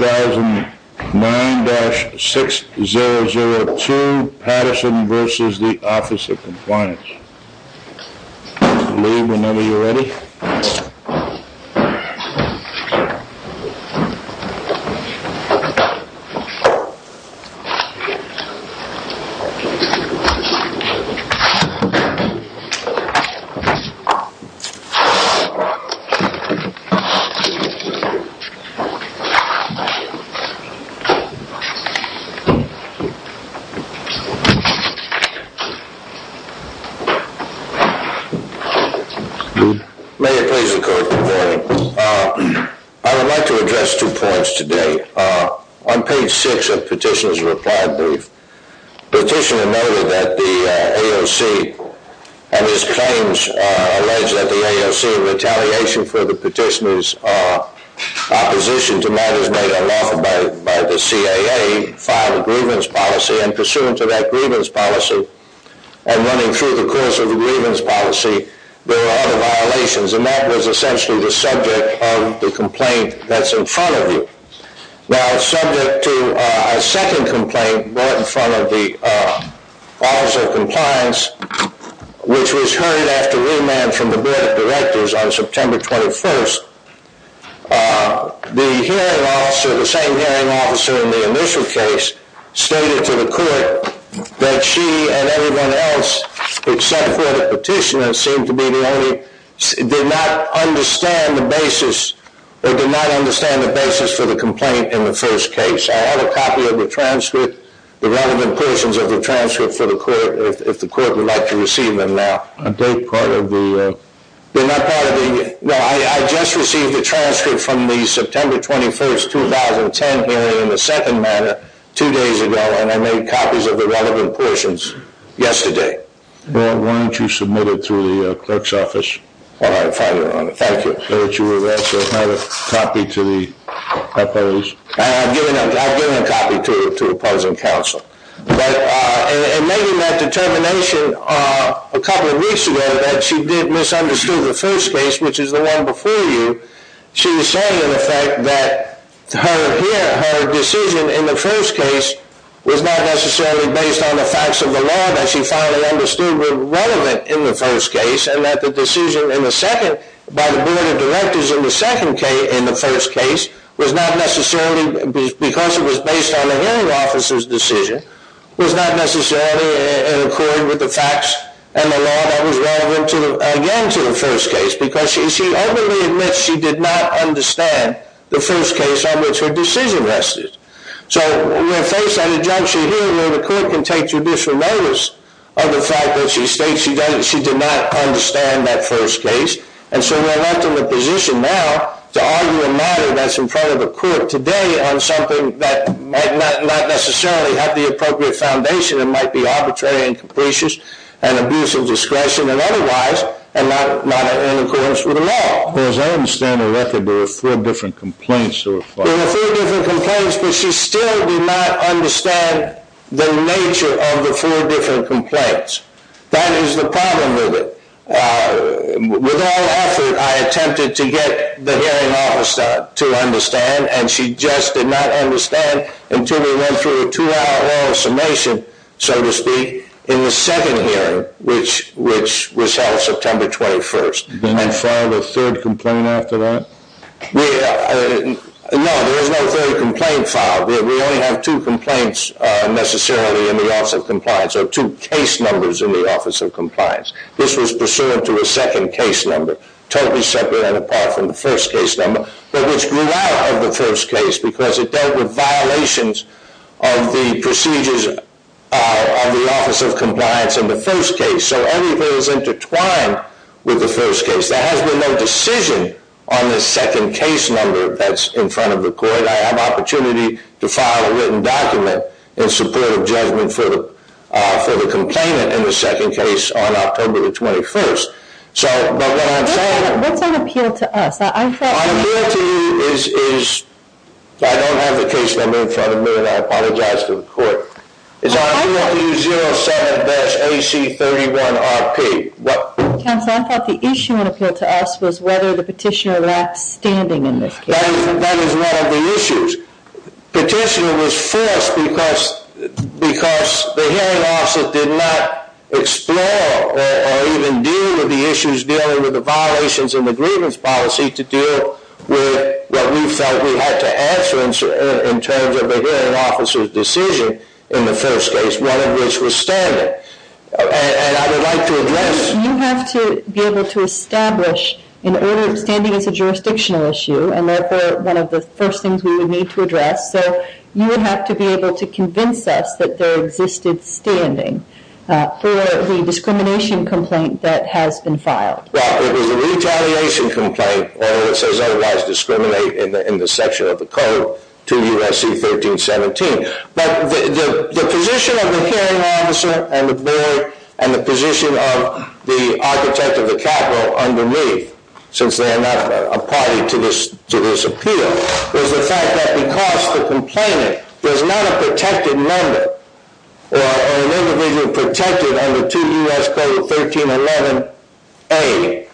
2009-6002 Patterson v. The Office of Compliance May it please the court, good morning. I would like to address two points today. On page 6 of Petitioner's reply brief, Petitioner noted that the AOC and his claims allege that the AOC in retaliation for the Petitioner's opposition to matters made on Wednesday, a case filed by the CAA, filed a grievance policy and pursuant to that grievance policy and running through the course of the grievance policy, there were other violations and that was essentially the subject of the complaint that's in front of you. Now subject to a second complaint brought in front of the Office of Compliance, which was heard after remand from the Board of Directors on September 21st, the hearing officer, the same hearing officer in the initial case, stated to the court that she and everyone else except for the petitioner seemed to be the only, did not understand the basis, or did not understand the basis for the complaint. In the first case, I have a copy of the transcript, the relevant portions of the transcript for the court, if the court would like to receive them now. I just received the transcript from the September 21st, 2010 hearing in the second manor two days ago and I made copies of the relevant portions yesterday. Well, why don't you submit it to the clerk's office? All right, fine, Your Honor. Thank you. That you were there. So I have a copy to the oppose. I've given a copy to the present counsel. But in making that determination a couple of weeks ago that she did misunderstand the first case, which is the one before you, she was saying in effect that her decision in the first case was not necessarily based on the facts of the law that she finally understood were relevant in the first case, and that the decision in the second, by the Board of Directors in the second case, in the first case, was not necessarily because it was based on the hearing officer's decision. It was not necessarily in accord with the facts and the law that was relevant again to the first case, because she openly admits she did not understand the first case on which her decision rested. So we're faced with an injunction here where the court can take judicial notice of the fact that she states she did not understand that first case. And so we're left in the position now to argue a matter that's in front of the court today on something that might not necessarily have the appropriate foundation. It might be arbitrary and capricious and abuse of discretion and otherwise and not in accordance with the law. As I understand the record, there were four different complaints that were filed. There were four different complaints, but she still did not understand the nature of the four different complaints. That is the problem with it. With all effort, I attempted to get the hearing officer to understand, and she just did not understand until we went through a two-hour long summation, so to speak, in the second hearing, which was held September 21st. And filed a third complaint after that? No, there was no third complaint filed. We only have two complaints necessarily in the Office of Compliance, or two case numbers in the Office of Compliance. This was pursuant to a second case number, totally separate and apart from the first case number, but which grew out of the first case because it dealt with violations of the procedures of the Office of Compliance in the first case. So everything is intertwined with the first case. There has been no decision on the second case number that's in front of the court. I have opportunity to file a written document in support of judgment for the complainant in the second case on October the 21st. So, but what I'm saying- What's on appeal to us? My appeal to you is, I don't have the case number in front of me and I apologize to the court. It's on appeal to you, 07-AC31-RP. Counsel, I thought the issue on appeal to us was whether the petitioner left standing in this case. That is one of the issues. Petitioner was forced because the hearing officer did not explore or even deal with the issues dealing with the violations in the grievance policy to deal with what we felt we had to answer in terms of a hearing officer's decision in the first case, one of which was standing. And I would like to address- You have to be able to establish an order of standing as a jurisdictional issue, and therefore one of the first things we would need to address. So you would have to be able to convince us that there existed standing for the discrimination complaint that has been filed. Well, it was a retaliation complaint. It says otherwise discriminate in the section of the code 2 U.S.C. 1317. But the position of the hearing officer and the board and the position of the architect of the capital underneath, since they are not a party to this appeal, was the fact that because the complainant was not a protected member or an individual protected under 2 U.S.C. 1311A,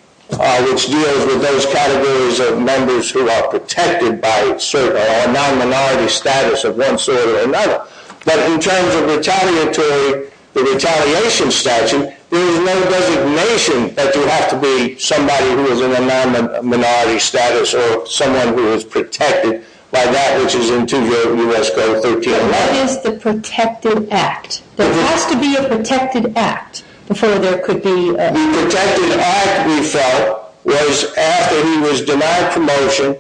which deals with those categories of members who are protected by a non-minority status of one sort or another. But in terms of retaliatory, the retaliation statute, there is no designation that you have to be somebody who is in a non-minority status or someone who is protected by that which is in 2 U.S.C. 1311. But what is the protected act? There has to be a protected act before there could be a- The protected act, we felt, was after he was denied promotion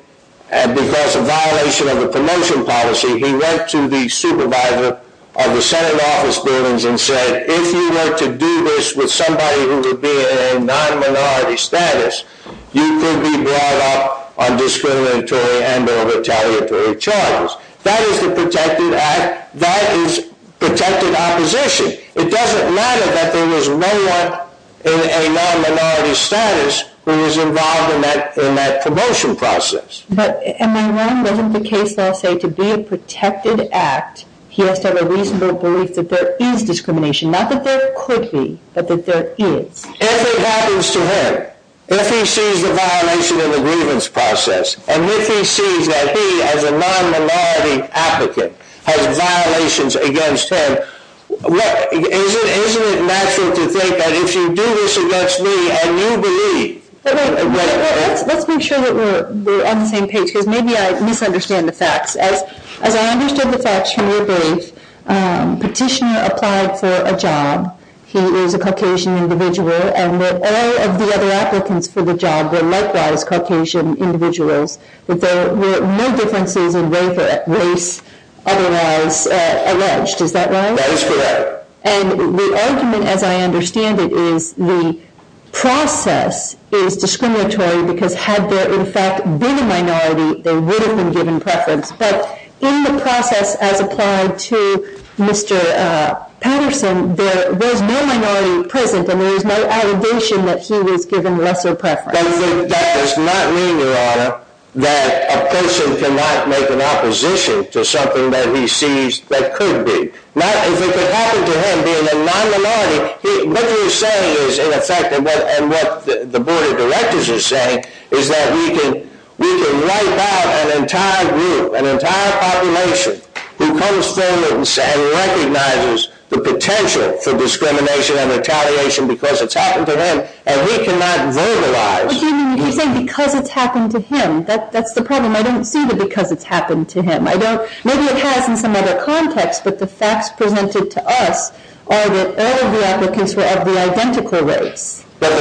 and because of violation of the promotion policy, he went to the supervisor of the Senate office buildings and said, if you were to do this with somebody who would be in a non-minority status, you could be brought up on discriminatory and or retaliatory charges. That is the protected act. That is protected opposition. It doesn't matter that there was no one in a non-minority status who was involved in that promotion process. But, and my one, wasn't the case that I'll say to be a protected act, he has to have a reasonable belief that there is discrimination. Not that there could be, but that there is. If it happens to him, if he sees the violation of the grievance process, and if he sees that he, as a non-minority applicant, has violations against him, isn't it natural to think that if you do this against me and you believe- Let's make sure that we're on the same page, because maybe I misunderstand the facts. As I understood the facts from your brief, Petitioner applied for a job. He is a Caucasian individual, and all of the other applicants for the job were likewise Caucasian individuals. There were no differences in race otherwise alleged. Is that right? That is correct. And the argument, as I understand it, is the process is discriminatory, because had there in fact been a minority, they would have been given preference. But in the process as applied to Mr. Patterson, there was no minority present, and there was no allegation that he was given lesser preference. That does not mean, Your Honor, that a person cannot make an opposition to something that he sees that could be. If it could happen to him, being a non-minority, what you're saying is, in effect, and what the Board of Directors is saying, is that we can wipe out an entire group, an entire population, who comes forward and recognizes the potential for discrimination and retaliation because it's happened to him, and we cannot verbalize. But you're saying because it's happened to him. That's the problem. I don't see the because it's happened to him. Maybe it has in some other context, but the facts presented to us are that all of the applicants were of the identical race. But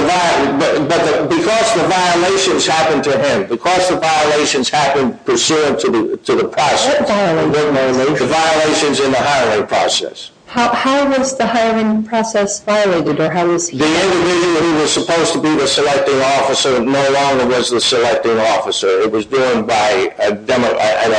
because the violations happened to him, because the violations happened pursuant to the process. What violations? The violations in the hiring process. How was the hiring process violated? The individual who was supposed to be the selecting officer no longer was the selecting officer. It was done by an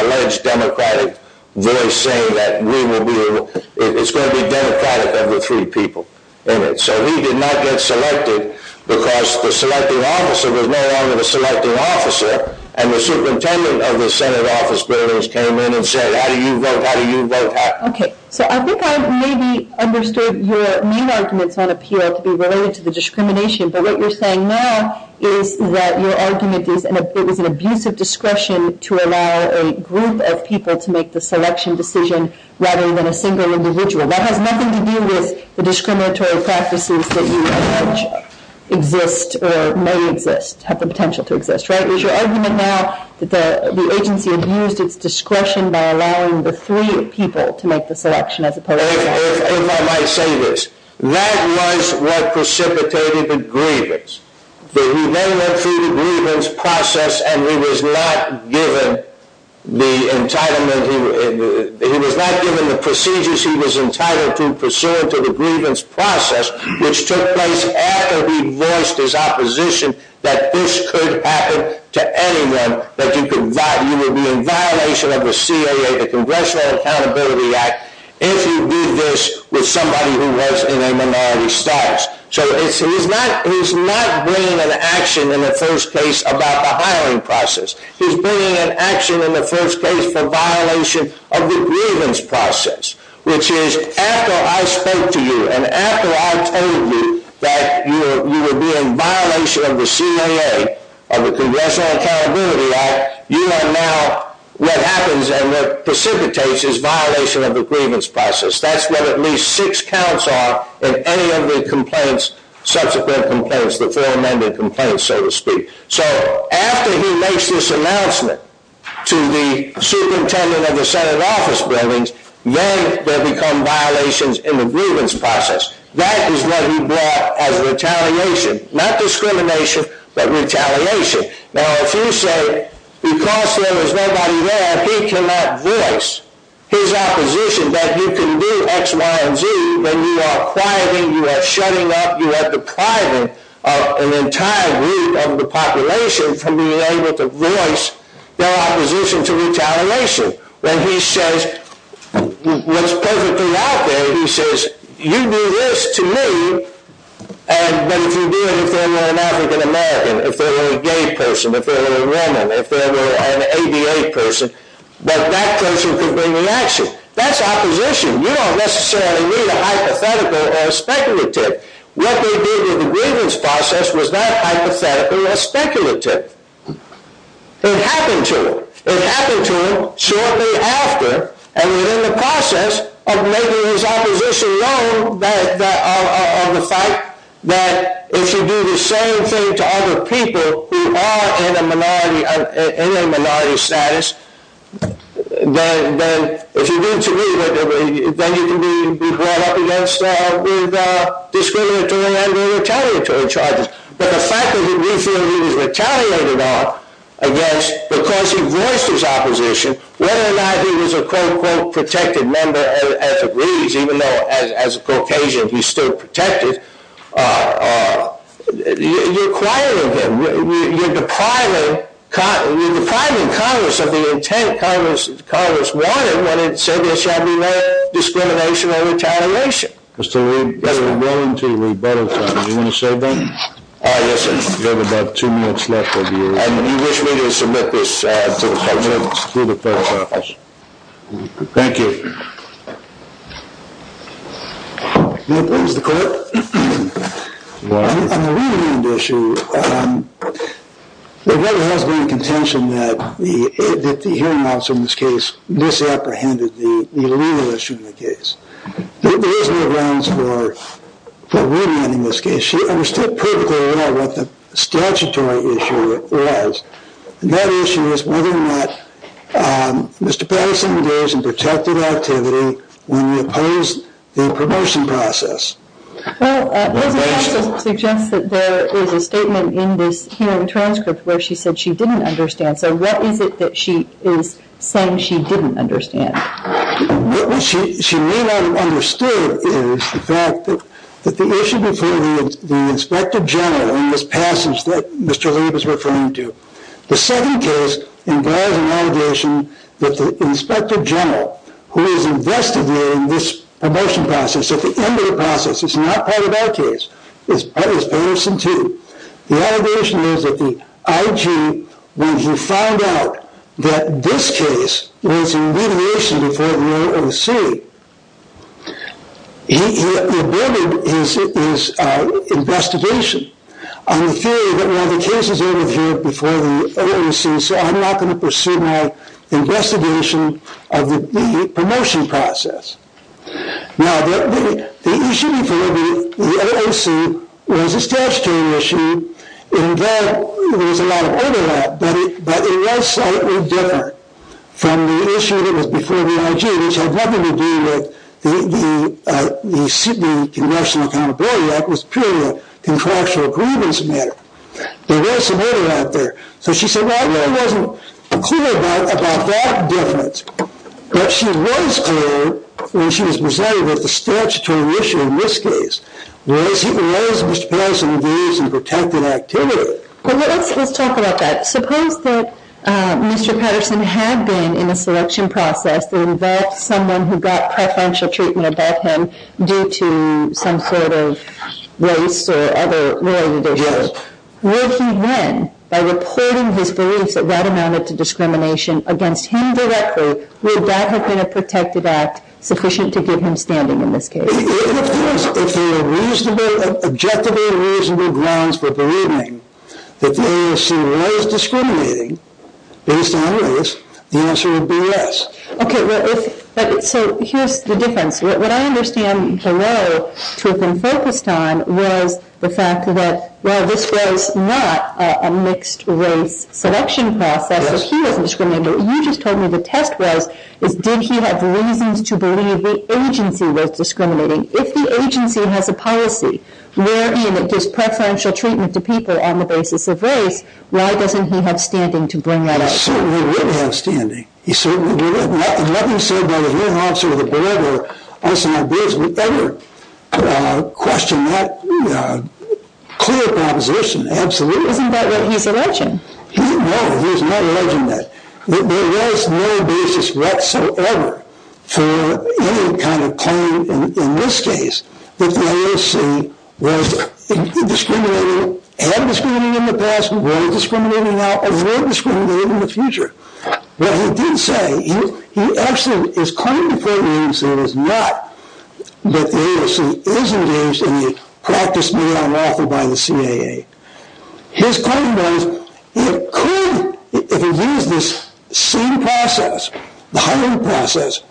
alleged Democratic voice saying that it's going to be Democratic of the three people in it. So he did not get selected because the selecting officer was no longer the selecting officer. And the superintendent of the Senate office buildings came in and said, how do you vote? How do you vote? Okay. So I think I maybe understood your main arguments on appeal to be related to the discrimination. But what you're saying now is that your argument is that it was an abusive discretion to allow a group of people to make the selection decision rather than a single individual. That has nothing to do with the discriminatory practices that you allege exist or may exist, have the potential to exist. Right? Is your argument now that the agency abused its discretion by allowing the three people to make the selection as opposed to one? If I might say this, that was what precipitated the grievance. He then went through the grievance process and he was not given the entitlement. He was not given the procedures he was entitled to pursuant to the grievance process, which took place after he voiced his opposition that this could happen to anyone, that you would be in violation of the CAA, the Congressional Accountability Act, if you did this with somebody who was in a minority status. So he's not bringing an action in the first place about the hiring process. He's bringing an action in the first place for violation of the grievance process, which is after I spoke to you and after I told you that you would be in violation of the CAA, of the Congressional Accountability Act, you are now, what happens and what precipitates is violation of the grievance process. That's what at least six counts are in any of the complaints, subsequent complaints, the four amended complaints, so to speak. So after he makes this announcement to the superintendent of the Senate office buildings, then there become violations in the grievance process. That is what he brought as retaliation, not discrimination, but retaliation. Now if you say, because there is nobody there, he cannot voice his opposition that you can do X, Y, and Z. When you are quieting, you are shutting up, you are depriving an entire group of the population from being able to voice their opposition to retaliation. Then he says, what's perfectly out there, he says, you do this to me, but if you do it if they're an African American, if they're a gay person, if they're a woman, if they're an ADA person, but that person can bring the action. That's opposition. You don't necessarily need a hypothetical or a speculative. What they did in the grievance process was not hypothetical or speculative. It happened to them. It happened to him shortly after and within the process of making his opposition known of the fact that if you do the same thing to other people who are in a minority status, then if you do it to me, then you can be brought up against with discriminatory and retaliatory charges. But the fact that we feel he was retaliated on against because he voiced his opposition, whether or not he was a, quote, quote, protected member as it reads, even though as a Caucasian he's still protected, you're quieting him. You're depriving Congress of the intent Congress wanted when it said there shall be no discrimination or retaliation. Mr. Lee, we're going to rebuttal time. Do you want to say something? Ah, yes, sir. We have about two minutes left. And you wish me to submit this to the first office? To the first office. Thank you. The court. On the remand issue, there has been contention that the hearing outs in this case misapprehended the remand issue in the case. There is no grounds for remanding this case. She understood perfectly well what the statutory issue was. And that issue was whether or not Mr. Patterson engaged in protected activity when we opposed the promotion process. Well, it does suggest that there is a statement in this hearing transcript where she said she didn't understand. So what is it that she is saying she didn't understand? What she may not have understood is the fact that the issue before the Inspector General in this passage that Mr. Lee was referring to, the second case involves an allegation that the Inspector General, who is investigating this promotion process, at the end of the process is not part of our case, but is Patterson's too. The allegation is that the IG, when he found out that this case was in litigation before the OOC, he aborted his investigation on the theory that we have the cases over here before the OOC, so I'm not going to pursue my investigation of the promotion process. Now, the issue before the OOC was a statutory issue, and there was a lot of overlap, but it was slightly different from the issue that was before the IG, which had nothing to do with the Sydney Congressional Accountability Act, which was purely a contractual grievance matter. There was some overlap there. So she said the IG wasn't clear about that difference, but she was clear when she was presiding over the statutory issue in this case. Whereas Mr. Patterson was engaged in protected activity. Let's talk about that. Suppose that Mr. Patterson had been in a selection process to invent someone who got preferential treatment about him due to some sort of race or other related issues. Would he then, by reporting his beliefs that that amounted to discrimination against him directly, would that have been a protected act sufficient to give him standing in this case? If there were reasonably, objectively reasonable grounds for believing that the OOC was discriminating based on race, the answer would be yes. Okay, so here's the difference. What I understand below, to have been focused on, was the fact that while this was not a mixed race selection process, if he was discriminating, what you just told me the test was, is did he have reasons to believe the agency was discriminating? If the agency has a policy wherein it gives preferential treatment to people on the basis of race, why doesn't he have standing to bring that up? He certainly would have standing. He certainly would have. And nothing said by the hearing officer or the board or us in our business would ever question that clear proposition, absolutely. Isn't that what he's alleging? No, he's not alleging that. There was no basis whatsoever for any kind of claim in this case that the OOC was discriminating, had discriminated in the past, was discriminating now, or will discriminate in the future. What he did say, he actually is claiming to think the agency was not, but the agency is engaged in the practice made unlawful by the CAA. His claim was it could, if it used this same process, the hiring process,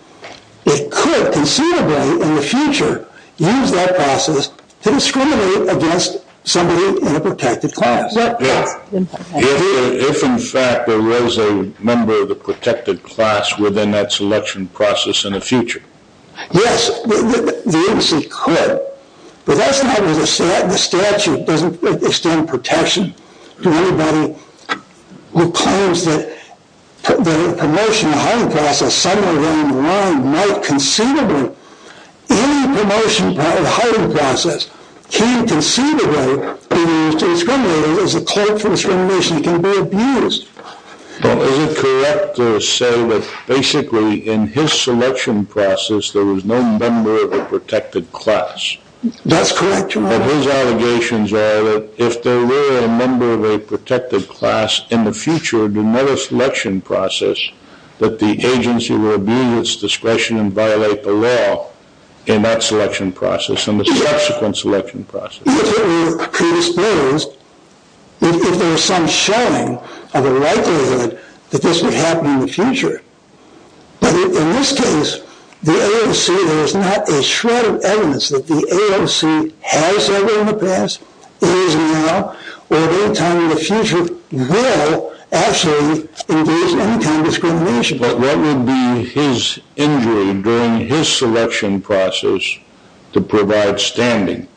it could considerably in the future use that process to discriminate against somebody in a protected class. If in fact there was a member of the protected class within that selection process in the future. Yes, the agency could, but that's not where the statute doesn't extend protection to anybody who claims that the promotion and hiring process somewhere down the line might considerably, any promotion or hiring process can considerably be used to discriminate as a clerk from discrimination can be abused. Is it correct to say that basically in his selection process there was no member of a protected class? That's correct, your honor. His allegations are that if there were a member of a protected class in the future, there would be another selection process that the agency would abuse its discretion and violate the law in that selection process and the subsequent selection process. It could be predisposed if there was some showing of a likelihood that this would happen in the future. But in this case, the AOC, there is not a shred of evidence that the AOC has ever in the past, it is now, or at any time in the future will actually engage in any kind of discrimination. But what would be his injury during his selection process to provide standing?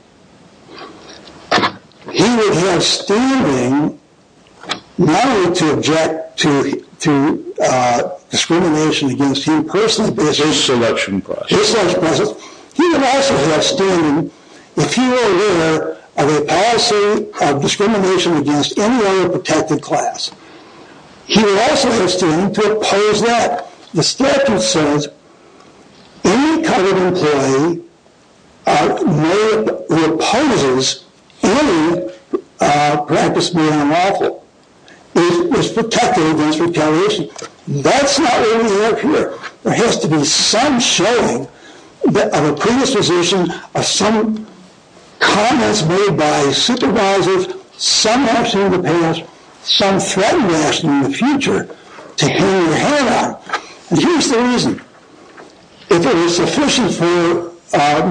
He would have standing not only to object to discrimination against him personally. His selection process. He would also have standing if he were aware of a policy of discrimination against any other protected class. He would also have standing to oppose that. The statute says any covered employee who opposes any practice beyond lawful is protected against retaliation. That's not what we have here. There has to be some showing of a predisposition of some comments made by supervisors, some action in the past, some threat rationing in the future to hang your head out. And here's the reason. If it was sufficient for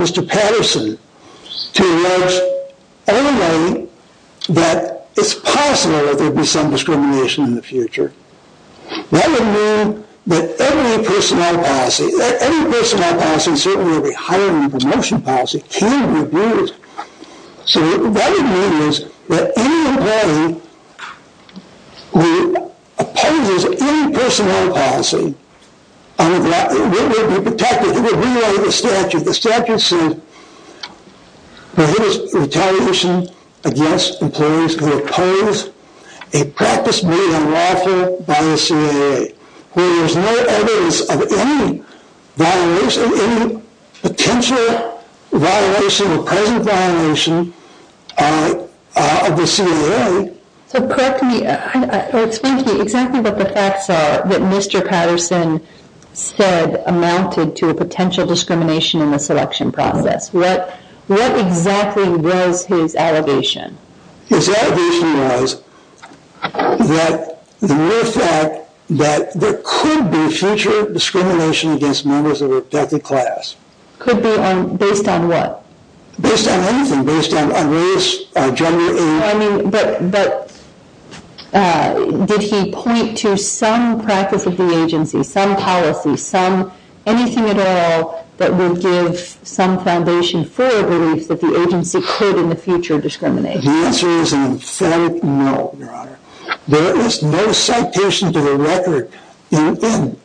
Mr. Patterson to allege only that it's possible that there would be some discrimination in the future, that would mean that every personnel policy, every personnel policy and certainly every hiring and promotion policy can be abused. So that would mean that any employee who opposes any personnel policy would be protected. It would violate the statute. The statute says retaliation against employees who oppose a practice made unlawful by the CAA. There is no evidence of any violation, any potential violation or present violation of the CAA. So correct me. Explain to me exactly what the facts are that Mr. Patterson said amounted to a potential discrimination in the selection process. What exactly was his allegation? His allegation was that there could be future discrimination against members of a protected class. Could be based on what? Based on anything, based on race, gender, age. No, I mean, but did he point to some practice of the agency, some policy, anything at all that would give some foundation for a belief that the agency could in the future discriminate? The answer is an emphatic no, Your Honor. There is no citation to the record in any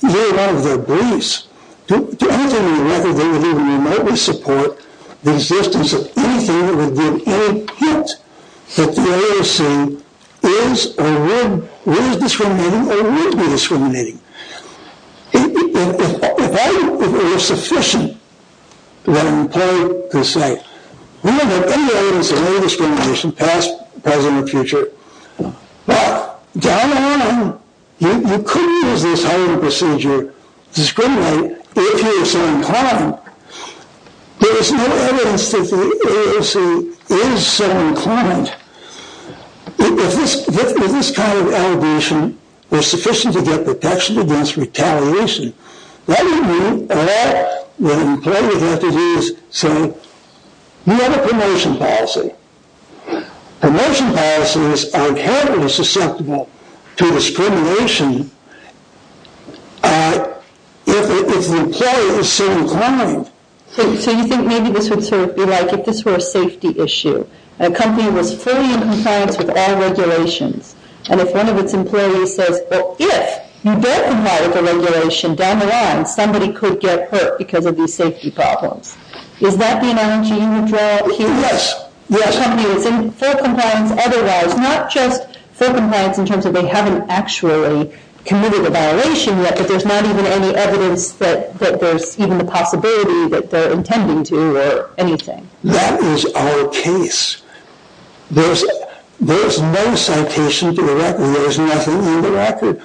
one of their beliefs. To anything in the record, they would even remotely support the existence of anything that would give any hint that the AOC is or would, was discriminating or would be discriminating. If I, if it was sufficient that an employee could say, we don't have any evidence of any discrimination past, present, or future. Well, down the line, you could use this hiring procedure to discriminate if you were so inclined. There is no evidence that the AOC is so inclined. If this kind of allegation was sufficient to get protection against retaliation, that would mean all that an employee would have to do is say, we have a promotion policy. Promotion policies are inherently susceptible to discrimination if the employee is so inclined. So you think maybe this would sort of be like if this were a safety issue. A company was fully in compliance with all regulations. And if one of its employees says, if you don't comply with the regulation, down the line, somebody could get hurt because of these safety problems. Is that the analogy you would draw here? Yes. A company that's in full compliance otherwise, not just full compliance in terms of they haven't actually committed a violation yet, but there's not even any evidence that there's even the possibility that they're intending to or anything. That is our case. There is no citation to the record. There is nothing in the record.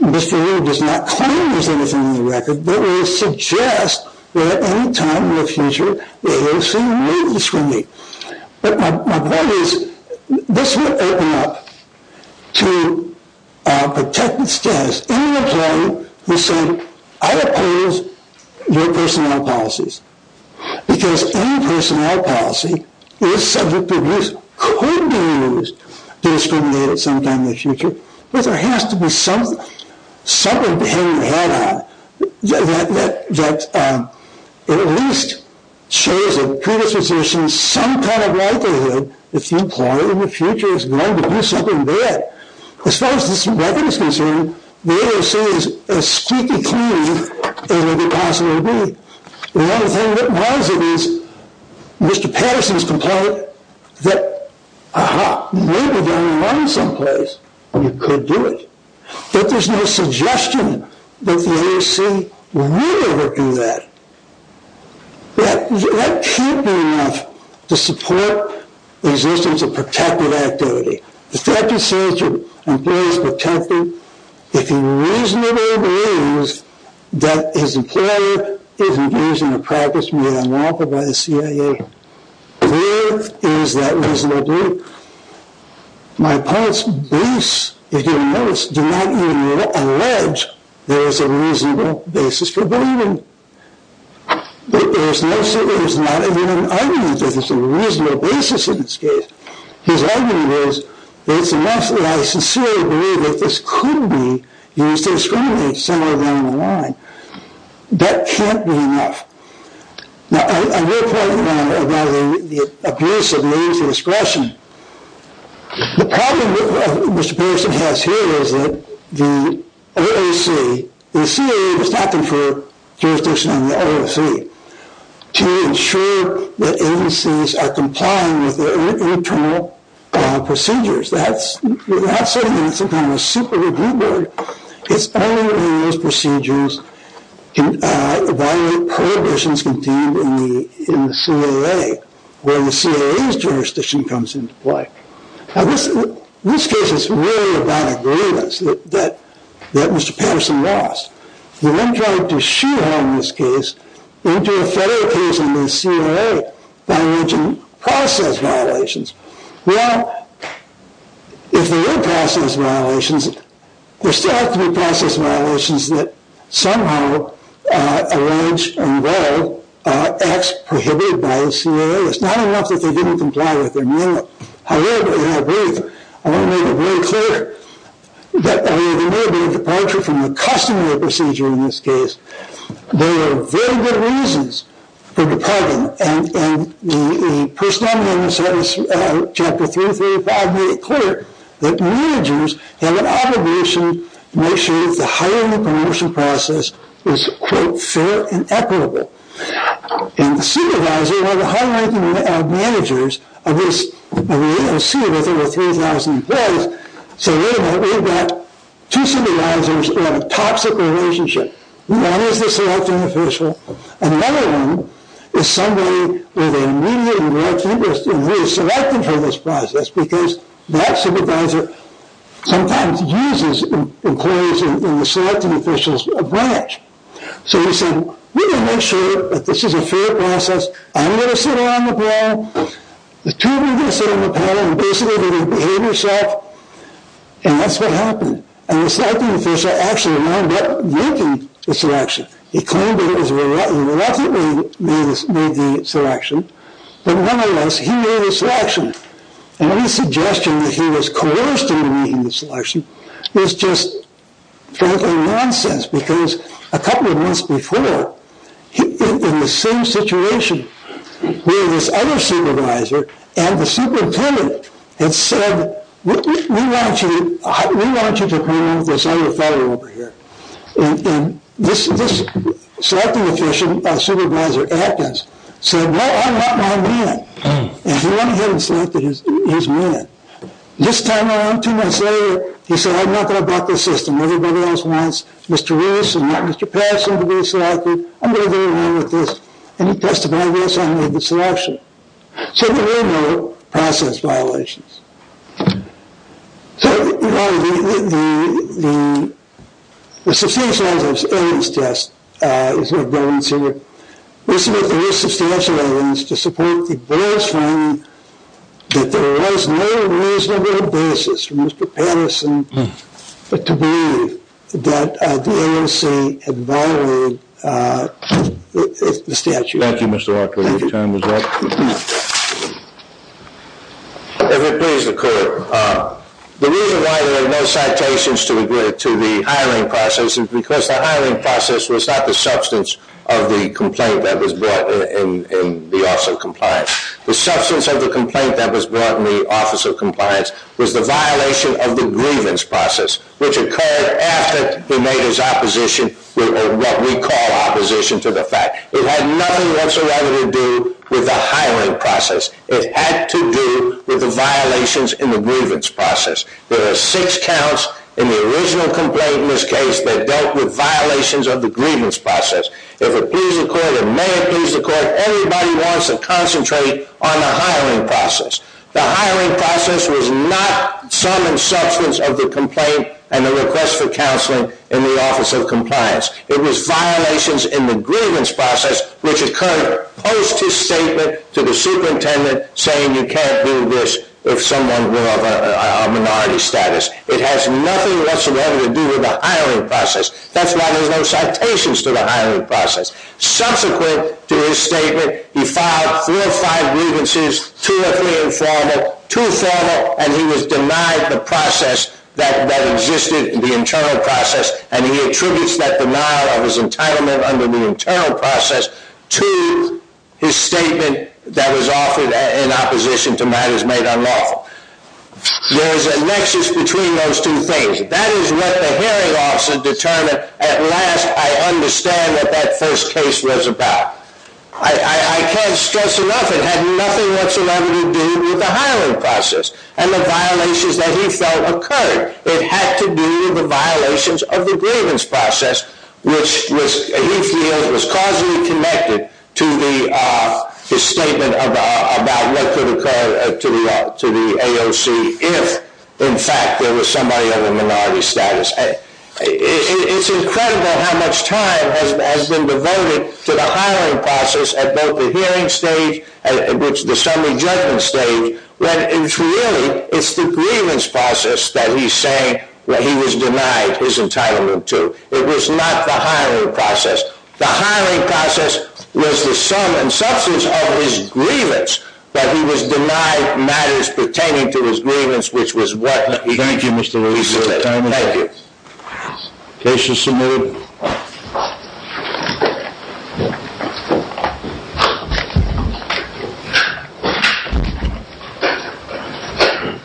Mr. New does not claim there's anything in the record, that would suggest that at any time in the future, it is seen as discriminating. But my point is, this would open up to a protected status. Any employee who said, I oppose your personnel policies. Because any personnel policy is subject to abuse, could be abused, discriminated sometime in the future. But there has to be something to hang your head on, that at least shows a predisposition, some kind of likelihood, if the employee in the future is going to do something bad. As far as this record is concerned, the AOC is as squeaky clean as it could possibly be. The other thing that rises is, Mr. Patterson's complaint, that, aha, maybe they'll learn some place where you could do it. But there's no suggestion that the AOC would ever do that. That can't be enough to support the existence of protected activity. If that procedure implies protecting, if he reasonably believes that his employer is engaged in a practice made unlawful by the CIA, there is that reasonable belief. My opponent's briefs, if you'll notice, do not even allege there is a reasonable basis for believing. There's not even an argument that there's a reasonable basis in this case. His argument is that it's enough that I sincerely believe that this could be used to discriminate somewhere down the line. That can't be enough. Now, I will point out about the abuse of military discretion. The problem Mr. Patterson has here is that the OAC, the CIA does not confer jurisdiction on the OAC to ensure that agencies are complying with their internal procedures. That's, without saying it's some kind of a super review board, it's only when those procedures violate prohibitions contained in the CAA where the CAA's jurisdiction comes into play. Now, this case is really about a grievance that Mr. Patterson lost. The one trying to shoehorn this case into a federal case under the CAA by alleging process violations. Well, if there were process violations, there still have to be process violations that somehow allege and involve acts prohibited by the CAA. It's not enough that they didn't comply with them. However, and I believe, I want to make it very clear that there may be a departure from the customary procedure in this case. There are very good reasons for departing. And the personality of the service chapter 335 made it clear that managers have an obligation to make sure that the hiring and promotion process is, quote, fair and equitable. And the supervisor, one of the high ranking managers of the OAC with over 3,000 employees said, wait a minute, we've got two supervisors who have a toxic relationship. One is the selecting official and another one is somebody with an immediate and direct interest in who is selected for this process because that supervisor sometimes uses employees in the selecting official's branch. So he said, we're going to make sure that this is a fair process. I'm going to sit on the panel. The two of you are going to sit on the panel and basically behave yourself. And that's what happened. And the selecting official actually wound up ranking the selection. He claimed that he reluctantly made the selection. But nonetheless, he made the selection. And his suggestion that he was coerced into making the selection is just frankly nonsense because a couple of months before, in the same situation, where this other supervisor and the superintendent had said, we want you to come in with this other fellow over here. And this selecting official, Supervisor Adkins, said, no, I want my man. And he went ahead and selected his man. This time around, two months later, he said, I'm not going to block this system. Everybody else wants Mr. Reese and not Mr. Patterson to be selected. I'm going to go along with this. And he testified against him and made the selection. So there were no process violations. So, you know, the substantial evidence test, is what I'm going to say here. We submit that there is substantial evidence to support the board's finding that there was no reasonable basis for Mr. Patterson to believe that the AOC had violated the statute. Thank you, Mr. Walker. Your time is up. If it please the court, the reason why there are no citations to the hiring process is because the hiring process was not the substance of the complaint that was brought in the Office of Compliance. The substance of the complaint that was brought in the Office of Compliance was the violation of the grievance process, which occurred after he made his opposition, what we call opposition to the fact. It had nothing whatsoever to do with the hiring process. It had to do with the violations in the grievance process. There are six counts in the original complaint in this case that dealt with violations of the grievance process. If it please the court, it may please the court, everybody wants to concentrate on the hiring process. The hiring process was not some substance of the complaint and the request for counseling in the Office of Compliance. It was violations in the grievance process, which occurred post his statement to the superintendent saying you can't do this if someone were of a minority status. It has nothing whatsoever to do with the hiring process. That's why there's no citations to the hiring process. Subsequent to his statement, he filed four or five grievances, two or three informal, two formal, and he was denied the process that existed, the internal process, and he attributes that denial of his entitlement under the internal process to his statement that was offered in opposition to matters made unlawful. There is a nexus between those two things. That is what the hearing officer determined at last I understand what that first case was about. I can't stress enough, it had nothing whatsoever to do with the hiring process and the violations that he felt occurred. It had to do with the violations of the grievance process, which he feels was causally connected to his statement about what could occur to the AOC if, in fact, there was somebody of a minority status. It's incredible how much time has been devoted to the hiring process at both the hearing stage and the summary judgment stage, when really it's the grievance process that he's saying that he was denied his entitlement to. It was not the hiring process. The hiring process was the sum and substance of his grievance that he was denied matters pertaining to his grievance, which was what he said. Thank you. Case is submitted. Thank you.